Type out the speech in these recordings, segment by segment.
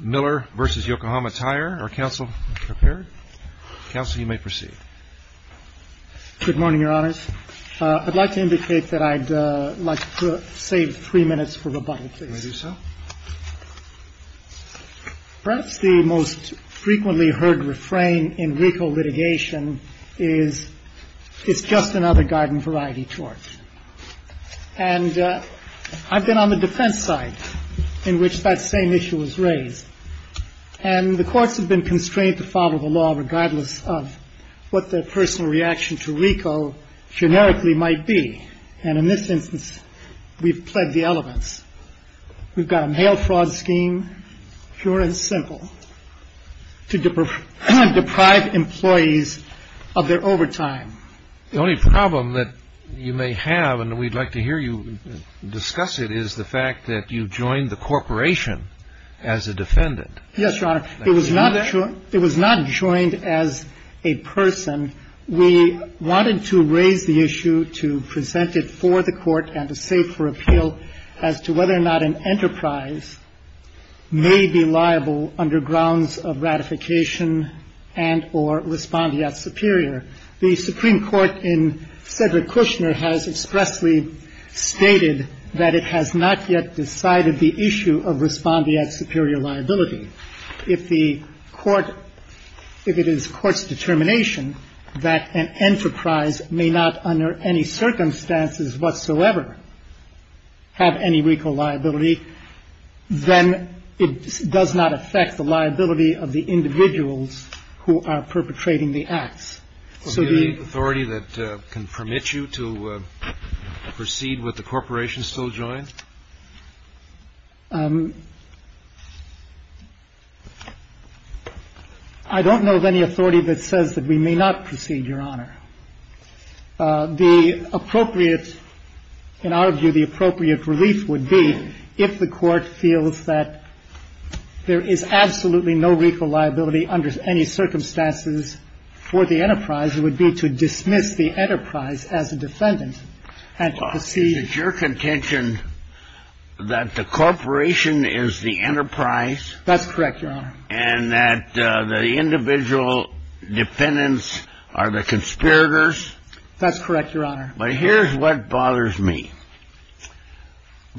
Miller v. Yokohama Tire. Are counsel prepared? Counsel, you may proceed. Good morning, Your Honors. I'd like to indicate that I'd like to save three minutes for rebuttal, please. May I do so? Perhaps the most frequently heard refrain in RICO litigation is, it's just another garden variety torch. And I've been on the defense side in which that same issue was raised. And the courts have been constrained to follow the law regardless of what their personal reaction to RICO generically might be. And in this instance, we've pled the elements. We've got a mail fraud scheme, pure and simple, to deprive employees of their overtime. The only problem that you may have, and we'd like to hear you discuss it, is the fact that you joined the corporation as a defendant. Yes, Your Honor. It was not joined as a person. We wanted to raise the issue to present it for the Court and to save for appeal as to whether or not an enterprise may be liable under grounds of ratification and or respondeat superior. The Supreme Court in Cedric Kushner has expressly stated that it has not yet decided the issue of respondeat superior liability. If the Court, if it is Court's determination that an enterprise may not under any circumstances whatsoever have any RICO liability, then it does not affect the liability of the individuals who are perpetrating the acts. So the authority that can permit you to proceed with the corporation still joins? I don't know of any authority that says that we may not proceed, Your Honor. The appropriate, in our view, the appropriate relief would be if the Court feels that there is absolutely no RICO liability under any circumstances for the enterprise, it would be to dismiss the enterprise as a defendant and to proceed. Is your contention that the corporation is the enterprise? That's correct, Your Honor. And that the individual defendants are the conspirators? That's correct, Your Honor. But here's what bothers me.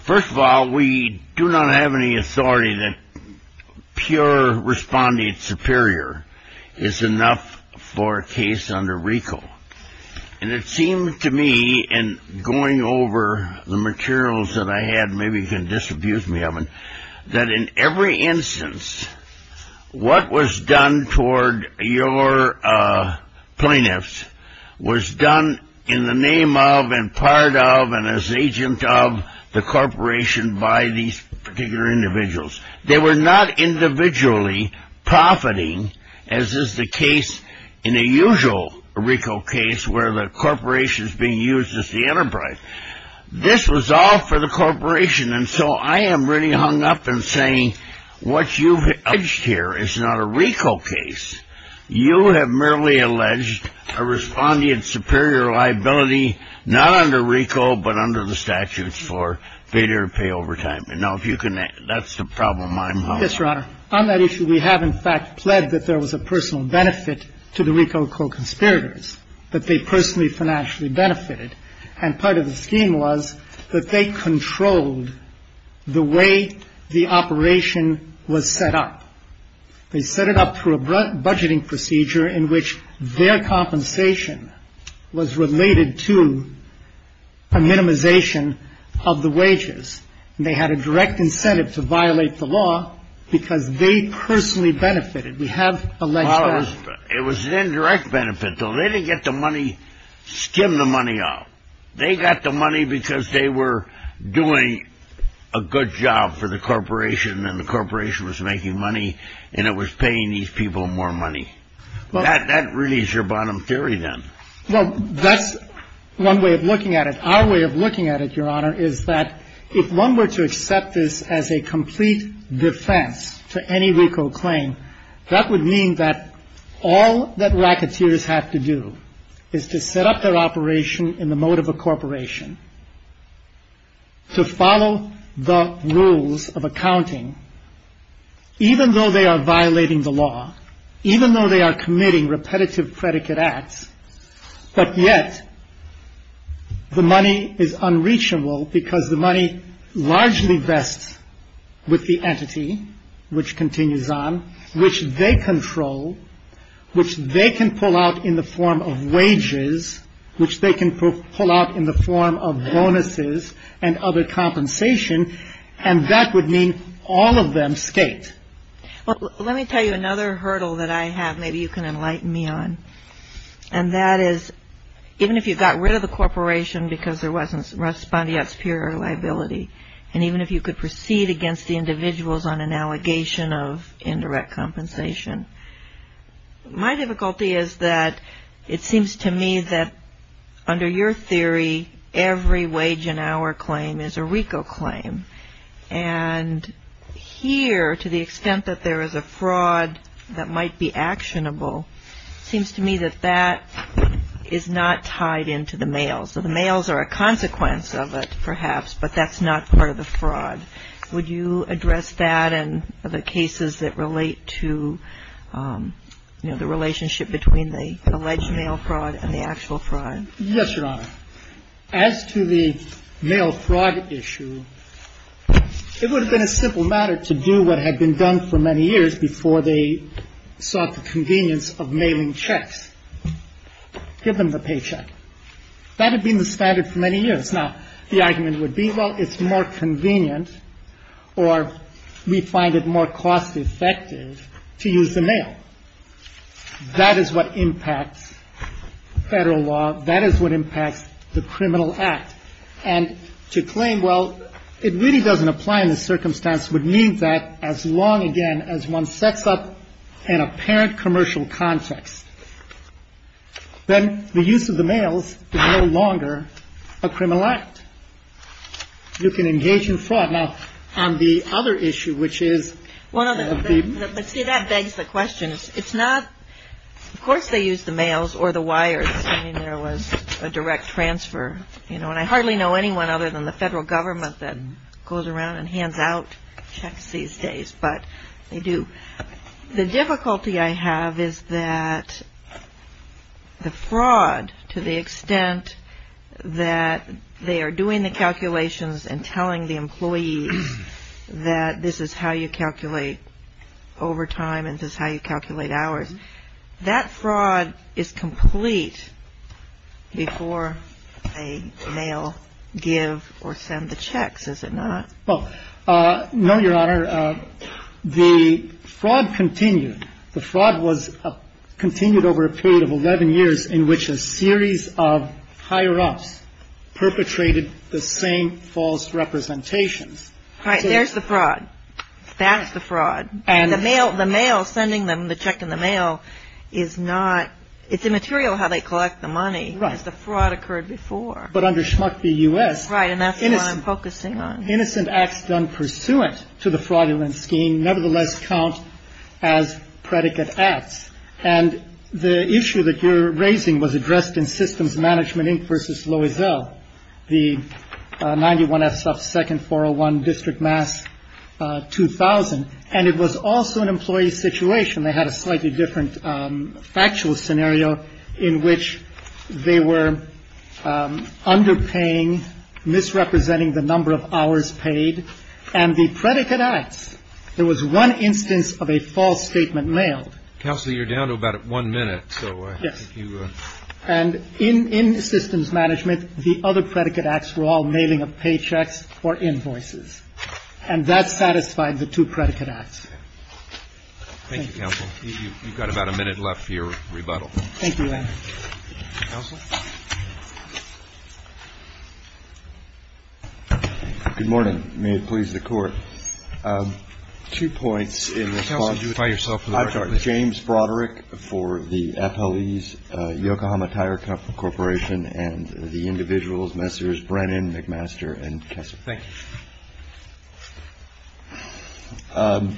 First of all, we do not have any authority that pure respondeat superior is enough for a case under RICO. And it seemed to me in going over the materials that I had, maybe you can disabuse me of them, that in every instance what was done toward your plaintiffs was done in the name of and part of and as agent of the corporation by these particular individuals. They were not individually profiting as is the case in a usual RICO case where the corporation is being used as the enterprise. This was all for the corporation. And so I am really hung up in saying what you've alleged here is not a RICO case. You have merely alleged a respondeat superior liability not under RICO but under the statutes for failure to pay overtime. That's the problem I'm hung up on. Yes, Your Honor. On that issue, we have in fact pled that there was a personal benefit to the RICO co-conspirators, that they personally financially benefited. And part of the scheme was that they controlled the way the operation was set up. They set it up through a budgeting procedure in which their compensation was related to a minimization of the wages. And they had a direct incentive to violate the law because they personally benefited. We have alleged that. Well, it was an indirect benefit, though. They didn't get the money, skim the money off. They got the money because they were doing a good job for the corporation and the corporation was making money and it was paying these people more money. That really is your bottom theory then. Well, that's one way of looking at it. Our way of looking at it, Your Honor, is that if one were to accept this as a complete defense to any RICO claim, that would mean that all that racketeers have to do is to set up their operation in the mode of a corporation to follow the rules of accounting even though they are violating the law, even though they are committing repetitive predicate acts, but yet the money is unreachable because the money largely vests with the entity, which continues on, which they control, which they can pull out in the form of wages, which they can pull out in the form of bonuses and other compensation, and that would mean all of them skate. Well, let me tell you another hurdle that I have maybe you can enlighten me on, and that is even if you got rid of the corporation because there wasn't respondeat superior liability and even if you could proceed against the individuals on an allegation of indirect compensation, my difficulty is that it seems to me that under your theory every wage and hour claim is a RICO claim and here to the extent that there is a fraud that might be actionable, it seems to me that that is not tied into the males. So the males are a consequence of it perhaps, but that's not part of the fraud. Would you address that and the cases that relate to, you know, the relationship between the alleged male fraud and the actual fraud? Yes, Your Honor. As to the male fraud issue, it would have been a simple matter to do what had been done for many years before they sought the convenience of mailing checks, give them the paycheck. That had been the standard for many years. Now, the argument would be, well, it's more convenient or we find it more cost effective to use the mail. That is what impacts Federal law. That is what impacts the criminal act. And to claim, well, it really doesn't apply in this circumstance would mean that as long again as one sets up an apparent commercial context, then the use of the mails is no longer a criminal act. You can engage in fraud. Now, on the other issue, which is. See, that begs the question. It's not. Of course they use the mails or the wires. There was a direct transfer, you know, and I hardly know anyone other than the federal government that goes around and hands out checks these days. But they do. The difficulty I have is that the fraud, to the extent that they are doing the calculations and telling the employees that this is how you calculate overtime and this is how you calculate hours, that fraud is complete before they mail, give or send the checks, is it not? Well, no, Your Honor. The fraud continued. The fraud was continued over a period of 11 years in which a series of higher-ups perpetrated the same false representations. Right. There's the fraud. That's the fraud. And the mail, the mail, sending them the check in the mail is not, it's immaterial how they collect the money. Right. Because the fraud occurred before. But under Schmuck v. U.S. Right. And that's what I'm focusing on. Innocent acts done pursuant to the fraudulent scheme nevertheless count as predicate acts. And the issue that you're raising was addressed in Systems Management Inc. v. Loisel, the 91SF-2nd-401-District-Mass-2000. And it was also an employee situation. And they had a slightly different factual scenario in which they were underpaying, misrepresenting the number of hours paid. And the predicate acts, there was one instance of a false statement mailed. Counsel, you're down to about one minute. Yes. And in Systems Management, the other predicate acts were all mailing of paychecks or invoices. And that satisfied the two predicate acts. Thank you, Counsel. You've got about a minute left for your rebuttal. Thank you, Landry. Counsel? Good morning. May it please the Court. Two points in response. Counsel, do you identify yourself for the record, please? I'm James Broderick for the FLE's Yokohama Tire Corporation and the individuals, Messrs. Brennan, McMaster, and Kessel. Thank you.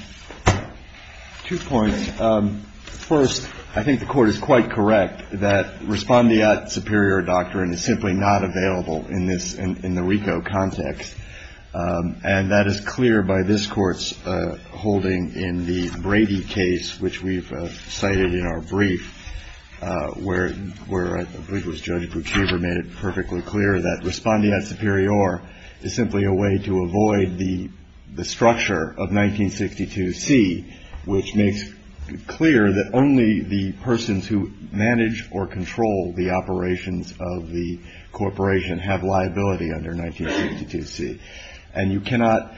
Two points. First, I think the Court is quite correct that respondeat superior doctrine is simply not available in the RICO context. And that is clear by this Court's holding in the Brady case, which we've cited in our brief, where I believe it was Judge Buchheber made it perfectly clear that respondeat superior is simply a way to avoid the structure of 1962C, which makes clear that only the persons who manage or control the operations of the corporation have liability under 1962C. And you cannot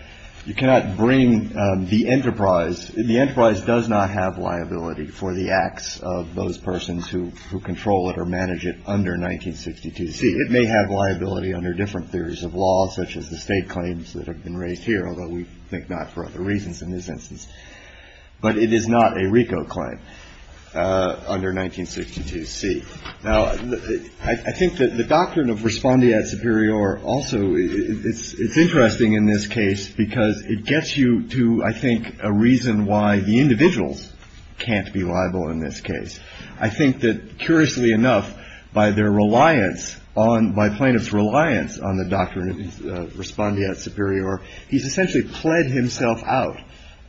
bring the enterprise – the enterprise does not have liability for the acts of those persons who control it or manage it under 1962C. It may have liability under different theories of law, such as the state claims that have been raised here, although we think not for other reasons in this instance. But it is not a RICO claim under 1962C. Now, I think that the doctrine of respondeat superior also – it's interesting in this case because it gets you to, I think, a reason why the individuals can't be liable in this case. I think that, curiously enough, by their reliance on – by plaintiff's reliance on the doctrine of respondeat superior, he's essentially pled himself out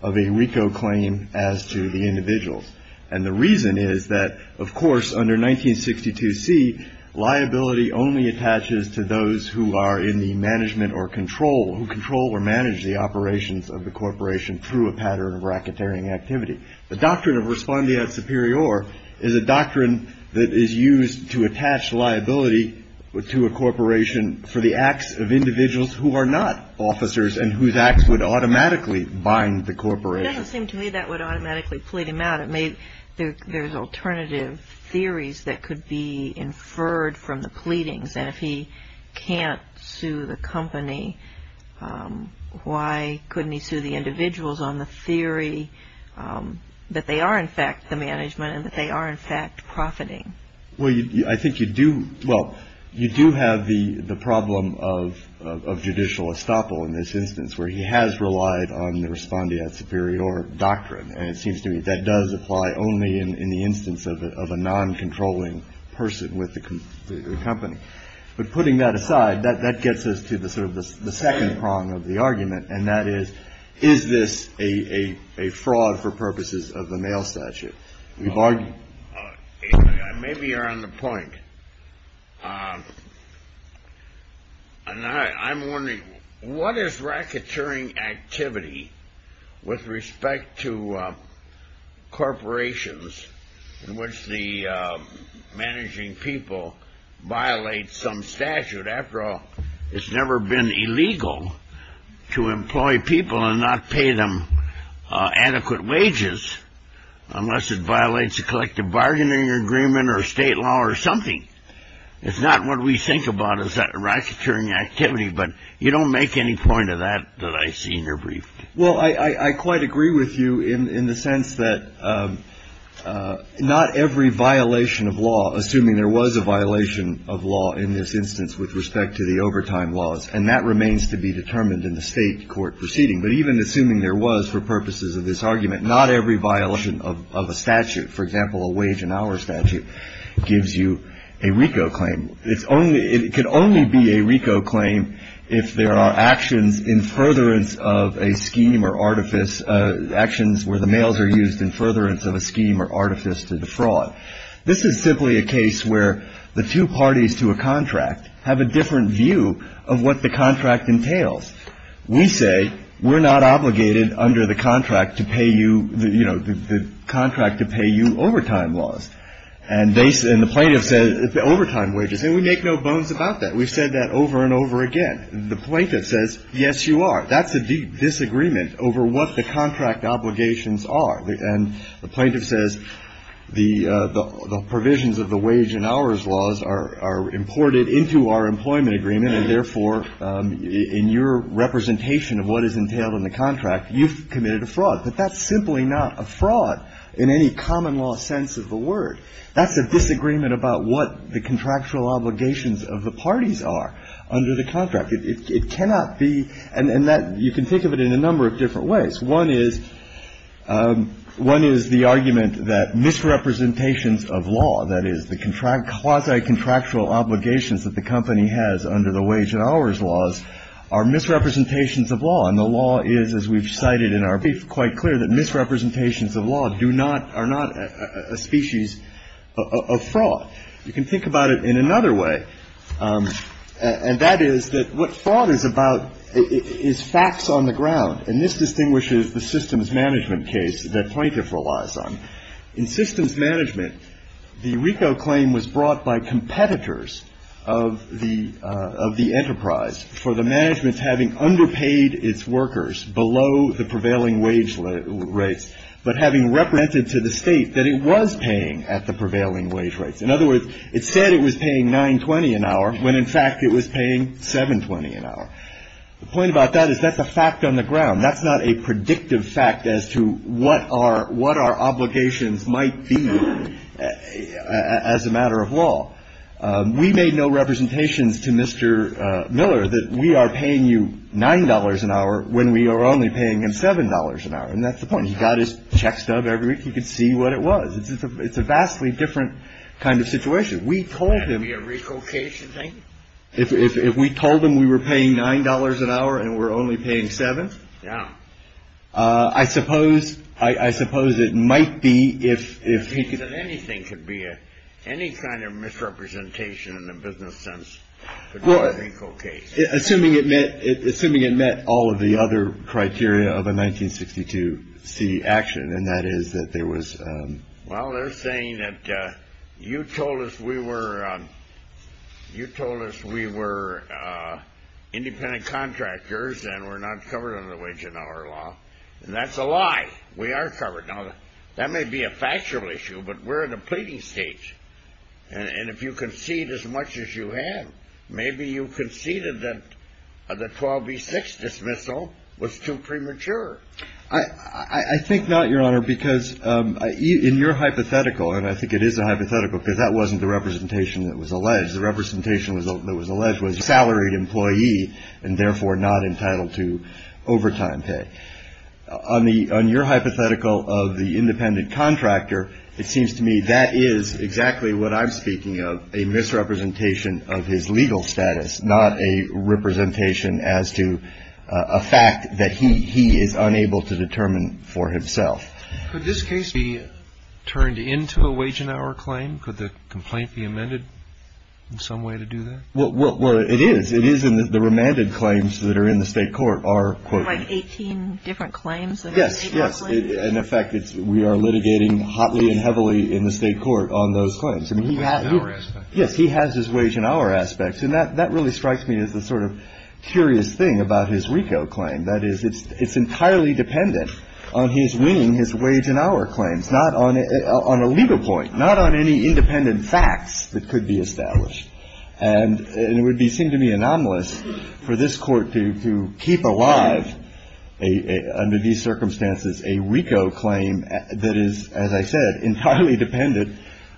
of a RICO claim as to the individuals. And the reason is that, of course, under 1962C, liability only attaches to those who are in the management or control – who control or manage the operations of the corporation through a pattern of racketeering activity. The doctrine of respondeat superior is a doctrine that is used to attach liability to a corporation for the acts of individuals who are not officers and whose acts would automatically bind the corporation. It doesn't seem to me that would automatically plead him out. It may – there's alternative theories that could be inferred from the pleadings. And if he can't sue the company, why couldn't he sue the individuals on the theory that they are, in fact, the management and that they are, in fact, profiting? Well, I think you do – well, you do have the problem of judicial estoppel in this instance where he has relied on the respondeat superior doctrine. And it seems to me that does apply only in the instance of a non-controlling person with the company. But putting that aside, that gets us to the sort of the second prong of the argument, and that is, is this a fraud for purposes of the mail statute? Maybe you're on the point. I'm wondering, what is racketeering activity with respect to corporations in which the managing people violate some statute? After all, it's never been illegal to employ people and not pay them adequate wages unless it violates a collective bargaining agreement or state law or something. It's not what we think about as racketeering activity, but you don't make any point of that that I've seen or briefed. Well, I quite agree with you in the sense that not every violation of law, assuming there was a violation of law in this instance with respect to the overtime laws, and that remains to be determined in the state court proceeding, but even assuming there was for purposes of this argument, not every violation of a statute, for example, a wage and hour statute, gives you a RICO claim. It can only be a RICO claim if there are actions in furtherance of a scheme or artifice, actions where the mails are used in furtherance of a scheme or artifice to defraud. This is simply a case where the two parties to a contract have a different view of what the contract entails. We say we're not obligated under the contract to pay you, you know, the contract to pay you overtime laws, and the plaintiff says it's the overtime wages, and we make no bones about that. We've said that over and over again. The plaintiff says, yes, you are. That's a deep disagreement over what the contract obligations are, and the plaintiff says the provisions of the wage and hours laws are imported into our employment agreement and, therefore, in your representation of what is entailed in the contract, you've committed a fraud. But that's simply not a fraud in any common law sense of the word. That's a disagreement about what the contractual obligations of the parties are under the contract. It cannot be – and that – you can think of it in a number of different ways. One is – one is the argument that misrepresentations of law, that is the quasi-contractual obligations that the company has under the wage and hours laws are misrepresentations of law, and the law is, as we've cited in our brief, quite clear that misrepresentations of law do not – are not a species of fraud. You can think about it in another way, and that is that what fraud is about is facts on the ground, and this distinguishes the systems management case that plaintiff relies on. In systems management, the RICO claim was brought by competitors of the enterprise for the management having underpaid its workers below the prevailing wage rates, but having represented to the state that it was paying at the prevailing wage rates. In other words, it said it was paying $9.20 an hour when, in fact, it was paying $7.20 an hour. The point about that is that's a fact on the ground. That's not a predictive fact as to what our – what our obligations might be as a matter of law. We made no representations to Mr. Miller that we are paying you $9.00 an hour when we are only paying him $7.00 an hour, and that's the point. He got his check stub every week. He could see what it was. It's a vastly different kind of situation. We told him – Could it be a RICO case, you think? If we told him we were paying $9.00 an hour and we're only paying $7.00? Yeah. I suppose – I suppose it might be if he could – That means that anything could be a – any kind of misrepresentation in the business sense could be a RICO case. Assuming it met – assuming it met all of the other criteria of a 1962 C action, and that is that there was – Well, they're saying that you told us we were – you told us we were independent contractors and we're not covered under the Wage and Hour Law, and that's a lie. We are covered. Now, that may be a factual issue, but we're in a pleading stage, and if you concede as much as you have, maybe you conceded that the 12B6 dismissal was too premature. I think not, Your Honor, because in your hypothetical – and I think it is a hypothetical because that wasn't the representation that was alleged. The representation that was alleged was a salaried employee and therefore not entitled to overtime pay. On the – on your hypothetical of the independent contractor, it seems to me that is exactly what I'm speaking of, a misrepresentation of his legal status, not a representation as to a fact that he is unable to determine for himself. Could this case be turned into a wage and hour claim? Could the complaint be amended in some way to do that? Well, it is. It is in the remanded claims that are in the state court are – Like 18 different claims that are in the state court? Yes, yes. And, in fact, we are litigating hotly and heavily in the state court on those claims. I mean, he has – Wage and hour aspects. Yes, he has his wage and hour aspects. And that really strikes me as the sort of curious thing about his RICO claim. That is, it's entirely dependent on his winning his wage and hour claims, not on a legal point, not on any independent facts that could be established. And it would seem to me anomalous for this court to keep alive under these circumstances a RICO claim that is, as I said, entirely dependent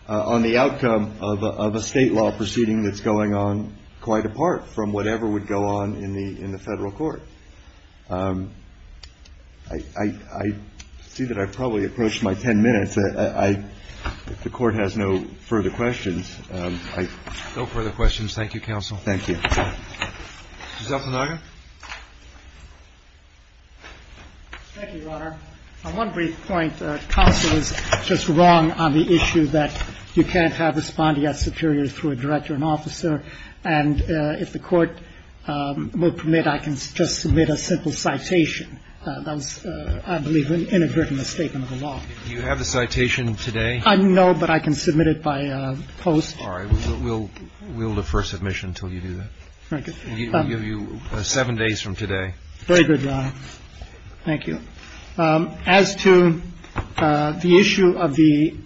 on the outcome of a state law proceeding that's going on quite apart from whatever would go on in the Federal Court. I see that I've probably approached my 10 minutes. If the Court has no further questions. No further questions. Thank you, Counsel. Thank you. Ms. Altanaga. Thank you, Your Honor. On one brief point, Counsel is just wrong on the issue that you can't have respondeat superiors through a director and officer. And if the Court will permit, I can just submit a simple citation. That was, I believe, inadvertent misstatement of the law. Do you have the citation today? No, but I can submit it by post. All right. We'll defer submission until you do that. Thank you. We'll give you seven days from today. Very good, Your Honor. Thank you. As to the issue of the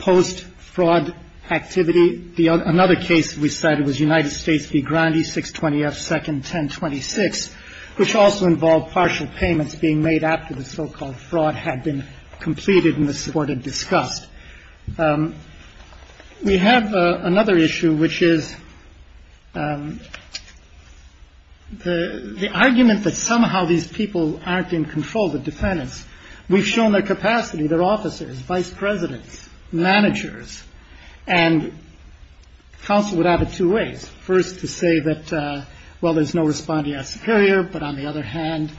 post-fraud activity, another case we cited was United States v. Grandi, 620F, second 1026, which also involved partial payments being made after the so-called fraud had been completed and the court had discussed. We have another issue, which is the argument that somehow these people aren't in control. The defendants. We've shown their capacity, their officers, vice presidents, managers, and counsel would have it two ways. First to say that, well, there's no respondeat superior, but on the other hand,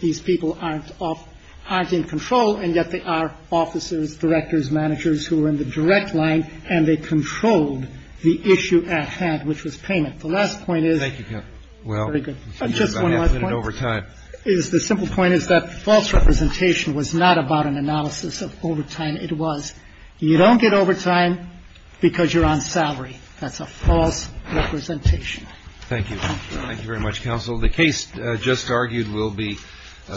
these people aren't in control, and yet they are officers, directors, managers who are in the direct line, and they controlled the issue at hand, which was payment. The last point is. Thank you, counsel. Very good. Just one last point. You're about half a minute over time. The simple point is that false representation was not about an analysis of overtime. It was you don't get overtime because you're on salary. That's a false representation. Thank you. Thank you very much, counsel. The case just argued will be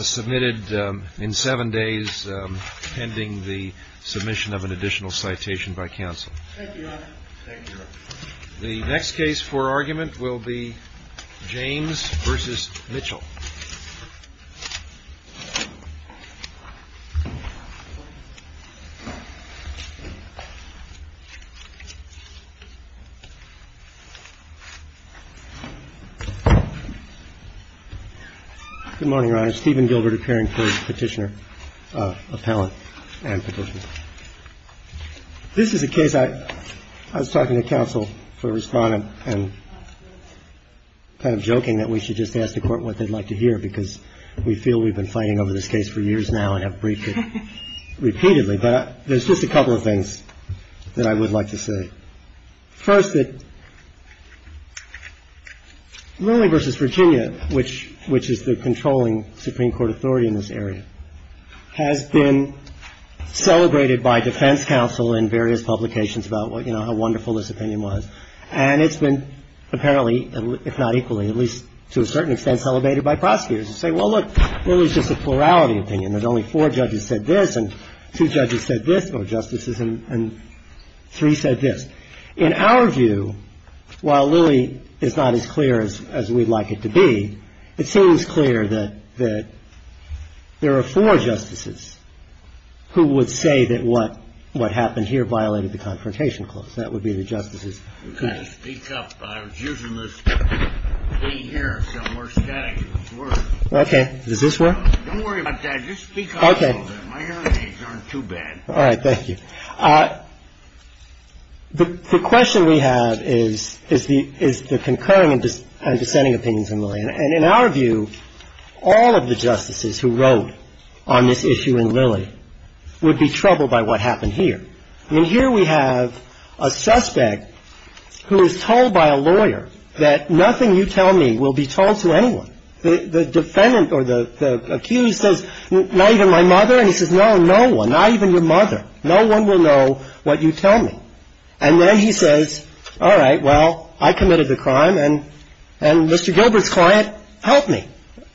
submitted in seven days pending the submission of an additional citation by counsel. Thank you, Your Honor. Thank you, Your Honor. The next case for argument will be James v. Mitchell. Good morning, Your Honor. Steven Gilbert appearing for Petitioner Appellant and Petitioner. This is a case I was talking to counsel for respondent and kind of joking that we should just ask the court what they'd like to hear because we feel we've been fighting over this case for years now and have briefed it repeatedly. But there's just a couple of things that I would like to say. First, that Lilly v. Virginia, which is the controlling Supreme Court authority in this area, has been celebrated by defense counsel in various publications about how wonderful this opinion was. And it's been apparently, if not equally, at least to a certain extent, celebrated by prosecutors who say, well, look, Lilly's just a plurality opinion. There's only four judges said this and two judges said this or justices and three said this. In our view, while Lilly is not as clear as we'd like it to be, it seems clear that there are four justices who would say that what happened here violated the Confrontation Clause. That would be the justices. Okay. Does this work? Okay. All right. Thank you. The question we have is the concurring and dissenting opinions on Lilly. And in our view, all of the justices who wrote on this issue in Lilly would be troubled by what happened here. I mean, here we have a suspect who is told by a lawyer that nothing you tell me will be told to anyone. The defendant or the accused says, not even my mother? And he says, no, no one, not even your mother. No one will know what you tell me. And then he says, all right, well, I committed the crime and Mr. Gilbert's client helped me.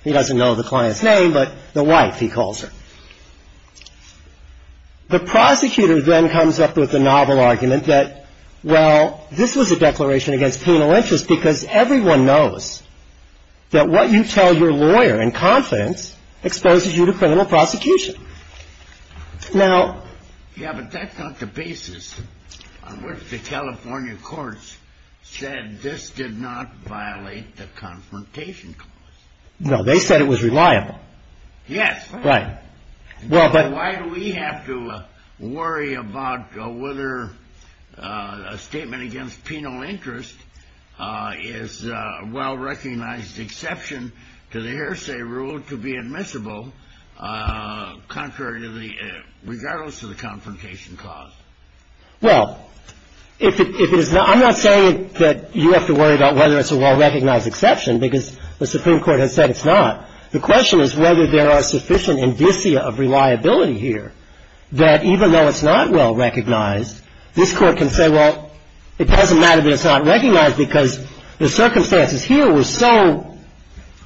He doesn't know the client's name, but the wife, he calls her. The prosecutor then comes up with the novel argument that, well, this was a declaration against penal interest because everyone knows that what you tell your lawyer in confidence exposes you to criminal prosecution. Now. Yeah, but that's not the basis on which the California courts said this did not violate the confrontation clause. No, they said it was reliable. Yes. Right. Well, but why do we have to worry about whether a statement against penal interest is a well-recognized exception to the hearsay rule to be admissible contrary to the regardless of the confrontation clause? Well, if it is, I'm not saying that you have to worry about whether it's a well-recognized exception because the Supreme Court has said it's not. The question is whether there are sufficient indicia of reliability here that even though it's not well-recognized, this Court can say, well, it doesn't matter that it's not recognized because the circumstances here were so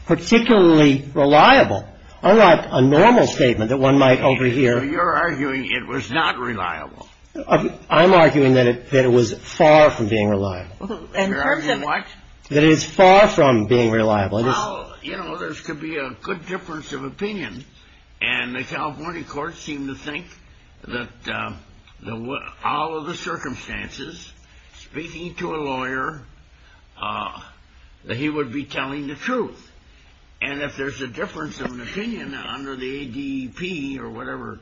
particularly reliable, unlike a normal statement that one might overhear. You're arguing it was not reliable. I'm arguing that it was far from being reliable. You're arguing what? That it is far from being reliable. Well, you know, there could be a good difference of opinion. And the California courts seem to think that all of the circumstances, speaking to a lawyer, that he would be telling the truth. And if there's a difference of opinion under the ADP or whatever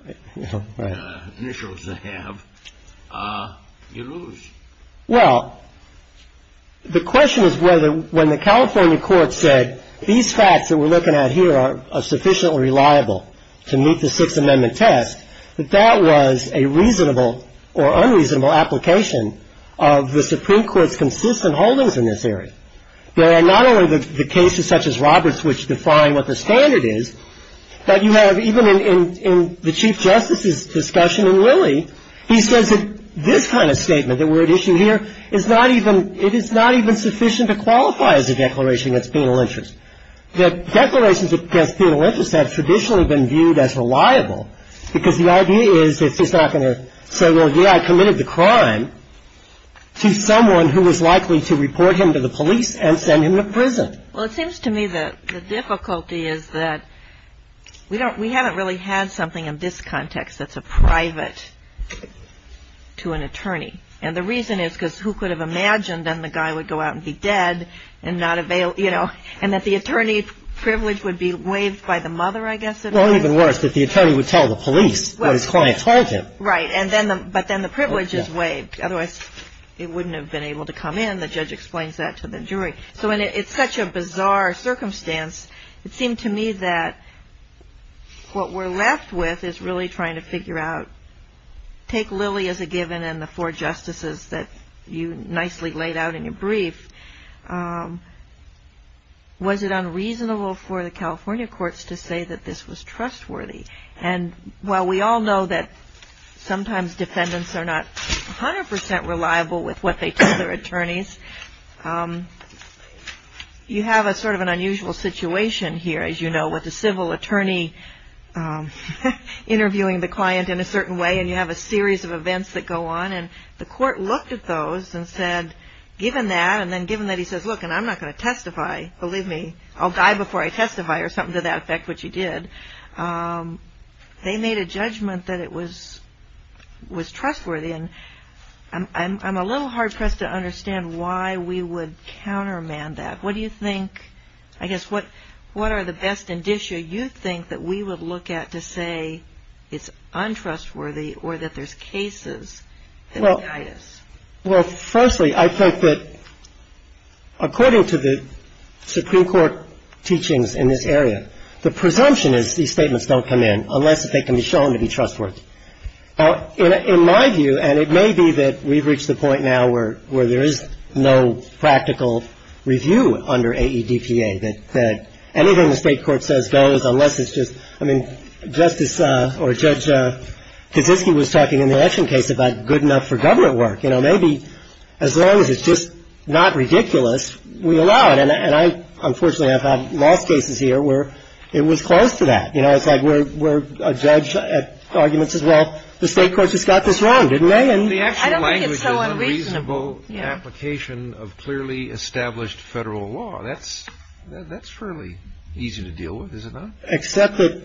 initials they have, you lose. Well, the question is whether when the California courts said, these facts that we're looking at here are sufficiently reliable to meet the Sixth Amendment test, that that was a reasonable or unreasonable application of the Supreme Court's consistent holdings in this area. There are not only the cases such as Roberts which define what the standard is, but you have even in the Chief Justice's discussion in Lilly, he says that this kind of statement that we're at issue here is not even, it is not even sufficient to qualify as a declaration against penal interest. The declarations against penal interest have traditionally been viewed as reliable because the idea is that he's not going to say, well, yeah, I committed the crime to someone who was likely to report him to the police and send him to prison. Well, it seems to me that the difficulty is that we haven't really had something in this context that's a private to an attorney. And the reason is because who could have imagined then the guy would go out and be dead and not avail, you know, and that the attorney privilege would be waived by the mother, I guess. Well, even worse, that the attorney would tell the police what his client told him. Right, but then the privilege is waived. Otherwise, it wouldn't have been able to come in. The judge explains that to the jury. So it's such a bizarre circumstance. It seemed to me that what we're left with is really trying to figure out, take Lilly as a given and the four justices that you nicely laid out in your brief. Was it unreasonable for the California courts to say that this was trustworthy? And while we all know that sometimes defendants are not 100% reliable with what they tell their attorneys, you have a sort of an unusual situation here, as you know, with a civil attorney interviewing the client in a certain way and you have a series of events that go on. And the court looked at those and said, given that, and then given that he says, look, and I'm not going to testify, believe me, I'll die before I testify or something to that effect, which he did. They made a judgment that it was trustworthy. And I'm a little hard-pressed to understand why we would countermand that. What do you think, I guess, what are the best indicia you think that we would look at to say it's untrustworthy or that there's cases that would guide us? Well, firstly, I think that according to the Supreme Court teachings in this area, the presumption is these statements don't come in unless they can be shown to be trustworthy. In my view, and it may be that we've reached the point now where there is no practical review under AEDPA, that anything the State court says goes unless it's just, I mean, Justice or Judge Kaczynski was talking in the action case about good enough for government work. You know, maybe as long as it's just not ridiculous, we allow it. And I unfortunately have had lost cases here where it was close to that. You know, it's like we're a judge at arguments as well. The State court just got this wrong, didn't they? And I don't think it's so unreasonable. I don't think it's so unreasonable, the application of clearly established Federal law. That's fairly easy to deal with, is it not? Except that,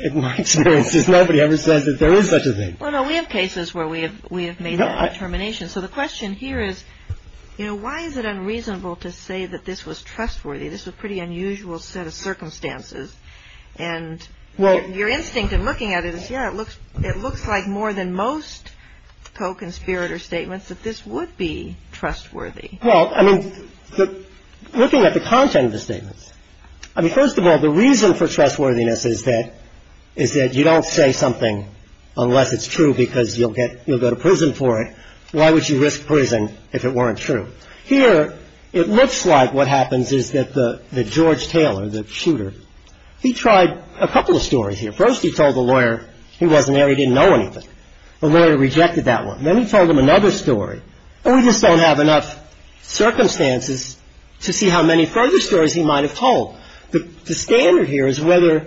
in my experience, nobody ever says that there is such a thing. Well, no, we have cases where we have made that determination. So the question here is, you know, why is it unreasonable to say that this was trustworthy? This was a pretty unusual set of circumstances. And your instinct in looking at it is, yeah, it looks like more than most co-conspirator statements that this would be trustworthy. I mean, first of all, the reason for trustworthiness is that you don't say something unless it's true because you'll go to prison for it. Why would you risk prison if it weren't true? Here, it looks like what happens is that the George Taylor, the shooter, he tried a couple of stories here. First, he told the lawyer he wasn't there, he didn't know anything. The lawyer rejected that one. Then he told him another story. And we just don't have enough circumstances to see how many further stories he might have told. The standard here is whether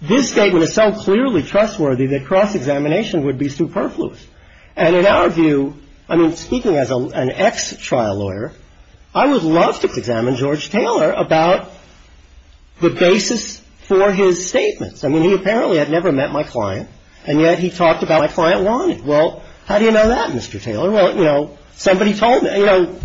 this statement is so clearly trustworthy that cross-examination would be superfluous. And in our view, I mean, speaking as an ex-trial lawyer, I would love to examine George Taylor about the basis for his statements. I mean, he apparently had never met my client, and yet he talked about my client wanting. Well, how do you know that, Mr. Taylor? Well, you know, somebody told me. You know,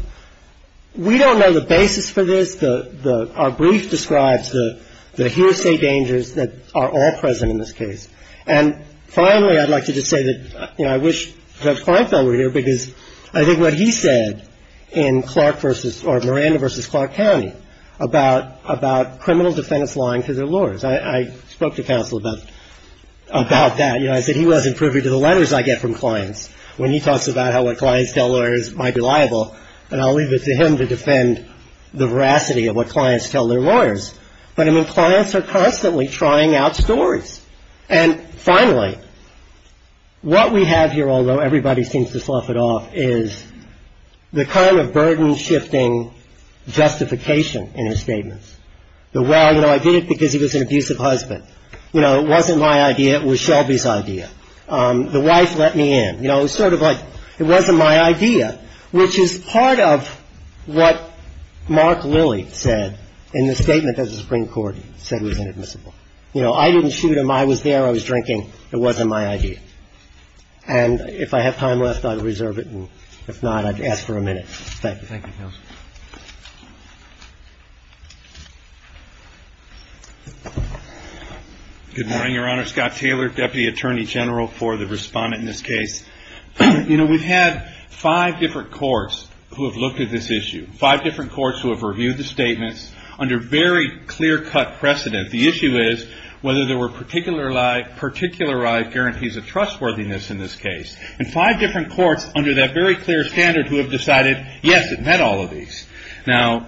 we don't know the basis for this. Our brief describes the hearsay dangers that are all present in this case. And finally, I'd like to just say that, you know, I wish Judge Kleinfeld were here because I think what he said in Clark versus or Miranda versus Clark County about criminal defendants lying for their lawyers. I spoke to counsel about that. You know, I said he wasn't privy to the letters I get from clients when he talks about how what clients tell lawyers might be liable. And I'll leave it to him to defend the veracity of what clients tell their lawyers. But, I mean, clients are constantly trying out stories. And finally, what we have here, although everybody seems to slough it off, is the kind of burden-shifting justification in his statements. The, well, you know, I did it because he was an abusive husband. You know, it wasn't my idea. It was Shelby's idea. The wife let me in. You know, it was sort of like it wasn't my idea, which is part of what Mark Lilly said in the statement that the Supreme Court said was inadmissible. You know, I didn't shoot him. I was there. I was drinking. It wasn't my idea. And if I have time left, I'll reserve it. And if not, I'd ask for a minute. Thank you. Thank you. Good morning, Your Honor. Scott Taylor, Deputy Attorney General for the respondent in this case. You know, we've had five different courts who have looked at this issue, five different courts who have reviewed the statements under very clear-cut precedent. The issue is whether there were particularized guarantees of trustworthiness in this case. And five different courts under that very clear standard who have decided, yes, it met all of these. Now,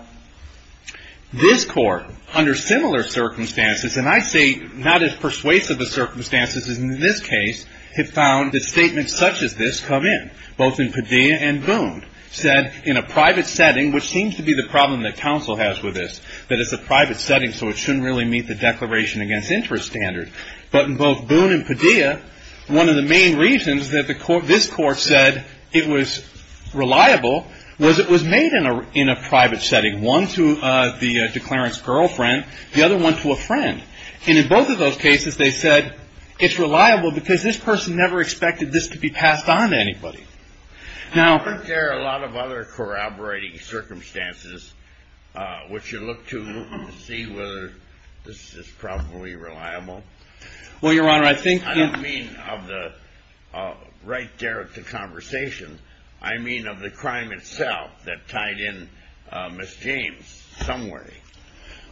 this court, under similar circumstances, and I say not as persuasive a circumstance as in this case, have found that statements such as this come in, both in Padilla and Boone, said in a private setting, which seems to be the problem that counsel has with this, that it's a private setting, so it shouldn't really meet the Declaration Against Interest standard. But in both Boone and Padilla, one of the main reasons that this court said it was reliable was it was made in a private setting, one to the declarant's girlfriend, the other one to a friend. And in both of those cases, they said it's reliable because this person never expected this to be passed on to anybody. Now, aren't there a lot of other corroborating circumstances which you look to see whether this is probably reliable? Well, Your Honor, I think... I don't mean of the right there at the conversation. I mean of the crime itself that tied in Miss James some way.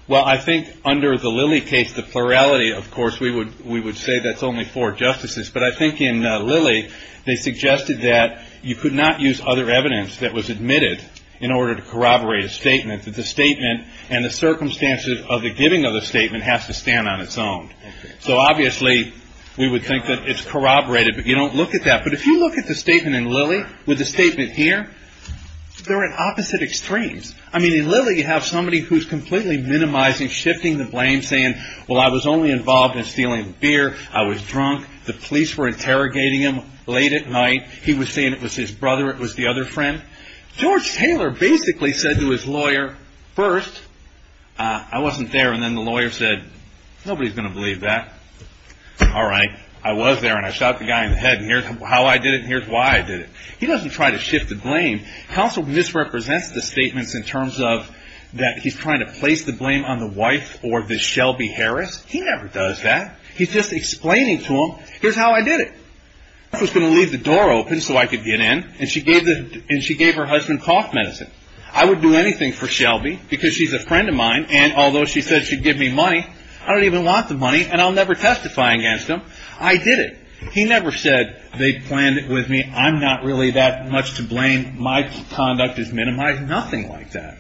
Well, I think under the Lilly case, the plurality, of course, we would say that's only four justices. But I think in Lilly, they suggested that you could not use other evidence that was admitted in order to corroborate a statement, that the statement and the circumstances of the giving of the statement has to stand on its own. So obviously, we would think that it's corroborated, but you don't look at that. But if you look at the statement in Lilly with the statement here, they're at opposite extremes. I mean, in Lilly, you have somebody who's completely minimizing, shifting the blame, saying, well, I was only involved in stealing the beer. I was drunk. The police were interrogating him late at night. He was saying it was his brother. It was the other friend. George Taylor basically said to his lawyer, first, I wasn't there, and then the lawyer said, nobody's going to believe that. All right, I was there, and I shot the guy in the head, and here's how I did it, and here's why I did it. He doesn't try to shift the blame. Counsel misrepresents the statements in terms of that he's trying to place the blame on the wife or the Shelby Harris. He never does that. He's just explaining to them, here's how I did it. I was going to leave the door open so I could get in, and she gave her husband cough medicine. I would do anything for Shelby because she's a friend of mine, and although she said she'd give me money, I don't even want the money, and I'll never testify against him. I did it. He never said they planned it with me. I'm not really that much to blame. My conduct is minimized. Nothing like that.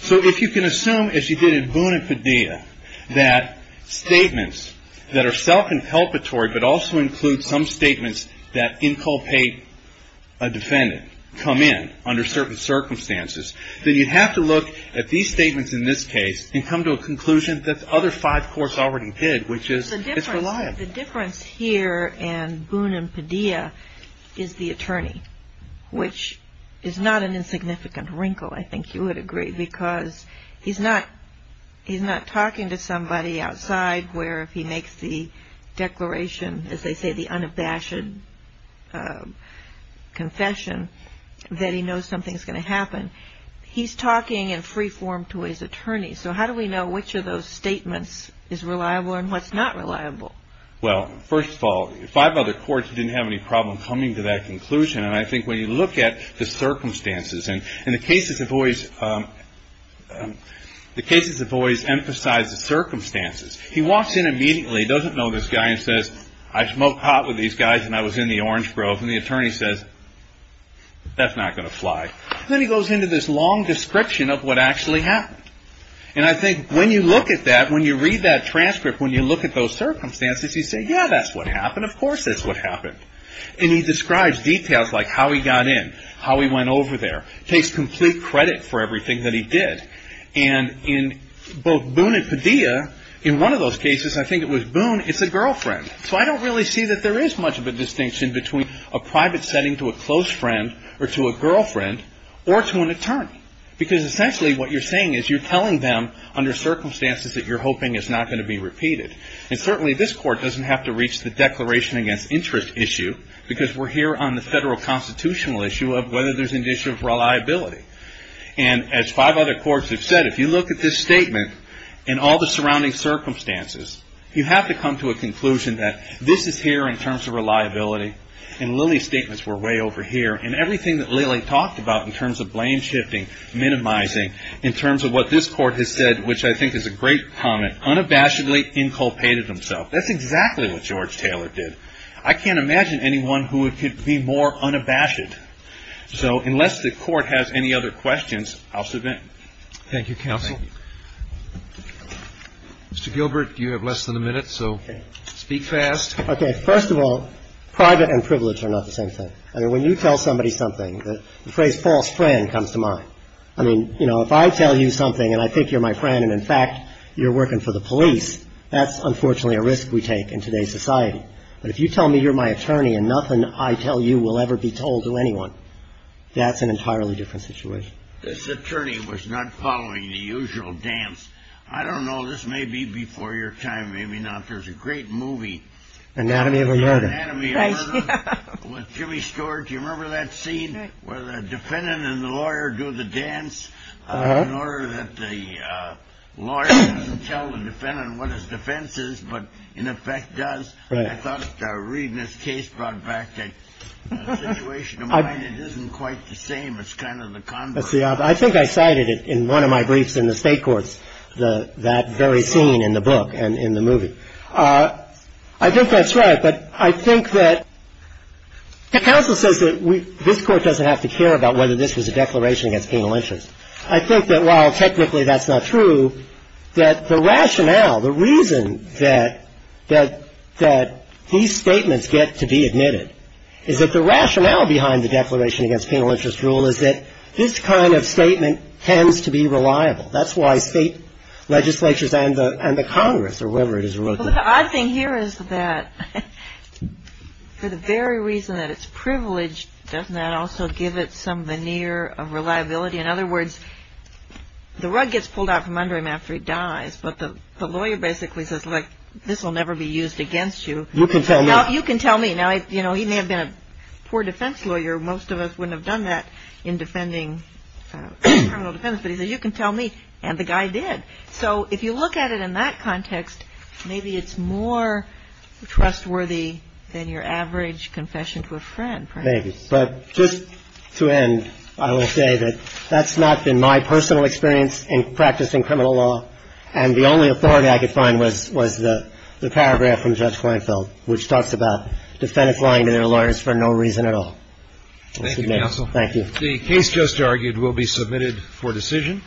So if you can assume, as you did in Boone and Padilla, that statements that are self-inculpatory but also include some statements that inculpate a defendant come in under certain circumstances, then you'd have to look at these statements in this case and come to a conclusion that the other five courts already did, which is it's reliable. The difference here in Boone and Padilla is the attorney, which is not an insignificant wrinkle, I think you would agree, because he's not talking to somebody outside where if he makes the declaration, as they say, the unabashed confession, that he knows something's going to happen. He's talking in free form to his attorney. So how do we know which of those statements is reliable and what's not reliable? Well, first of all, five other courts didn't have any problem coming to that conclusion, and I think when you look at the circumstances, and the cases have always emphasized the circumstances. He walks in immediately, doesn't know this guy, and says, I smoked pot with these guys when I was in the Orange Grove, and the attorney says, that's not going to fly. Then he goes into this long description of what actually happened. And I think when you look at that, when you read that transcript, when you look at those circumstances, you say, yeah, that's what happened, of course that's what happened. And he describes details like how he got in, how he went over there, takes complete credit for everything that he did. And in both Boone and Padilla, in one of those cases, I think it was Boone, it's a girlfriend. So I don't really see that there is much of a distinction between a private setting to a close friend, or to a girlfriend, or to an attorney. Because essentially what you're saying is you're telling them, under circumstances that you're hoping is not going to be repeated. And certainly this court doesn't have to reach the declaration against interest issue, because we're here on the federal constitutional issue of whether there's an issue of reliability. And as five other courts have said, if you look at this statement, and all the surrounding circumstances, you have to come to a conclusion that this is here in terms of reliability. And Lilly's statements were way over here. And everything that Lilly talked about in terms of blame shifting, minimizing, in terms of what this court has said, which I think is a great comment, unabashedly inculpated himself. That's exactly what George Taylor did. I can't imagine anyone who could be more unabashed. So unless the court has any other questions, I'll submit. Thank you, counsel. Mr. Gilbert, you have less than a minute, so speak fast. Okay. First of all, private and privilege are not the same thing. I mean, when you tell somebody something, the phrase false friend comes to mind. I mean, you know, if I tell you something and I think you're my friend and, in fact, you're working for the police, that's unfortunately a risk we take in today's society. But if you tell me you're my attorney and nothing I tell you will ever be told to anyone, that's an entirely different situation. This attorney was not following the usual dance. I don't know. This may be before your time. Maybe not. There's a great movie. Anatomy of a Murder. Anatomy of a Murder with Jimmy Stewart. Do you remember that scene where the defendant and the lawyer do the dance in order that the lawyer doesn't tell the defendant what his defense is, but in effect does? I thought reading this case brought back that situation of mine. It isn't quite the same. It's kind of the converse. See, I think I cited it in one of my briefs in the State Courts, that very scene in the book and in the movie. I think that's right. But I think that the counsel says that this Court doesn't have to care about whether this was a declaration against penal interest. I think that while technically that's not true, that the rationale, the reason that these statements get to be admitted, is that the rationale behind the declaration against penal interest rule is that this kind of statement tends to be reliable. That's why state legislatures and the Congress, or wherever it is, are looking at it. Well, the odd thing here is that for the very reason that it's privileged, doesn't that also give it some veneer of reliability? In other words, the rug gets pulled out from under him after he dies, but the lawyer basically says, look, this will never be used against you. You can tell me. You can tell me. Now, you know, he may have been a poor defense lawyer. Most of us wouldn't have done that in defending criminal defense. But he said, you can tell me. And the guy did. So if you look at it in that context, maybe it's more trustworthy than your average confession to a friend. Maybe. But just to end, I will say that that's not been my personal experience in practicing criminal law. And the only authority I could find was the paragraph from Judge Kleinfeld, which talks about defendants lying to their lawyers for no reason at all. Thank you, Counsel. Thank you. The case just argued will be submitted for decision.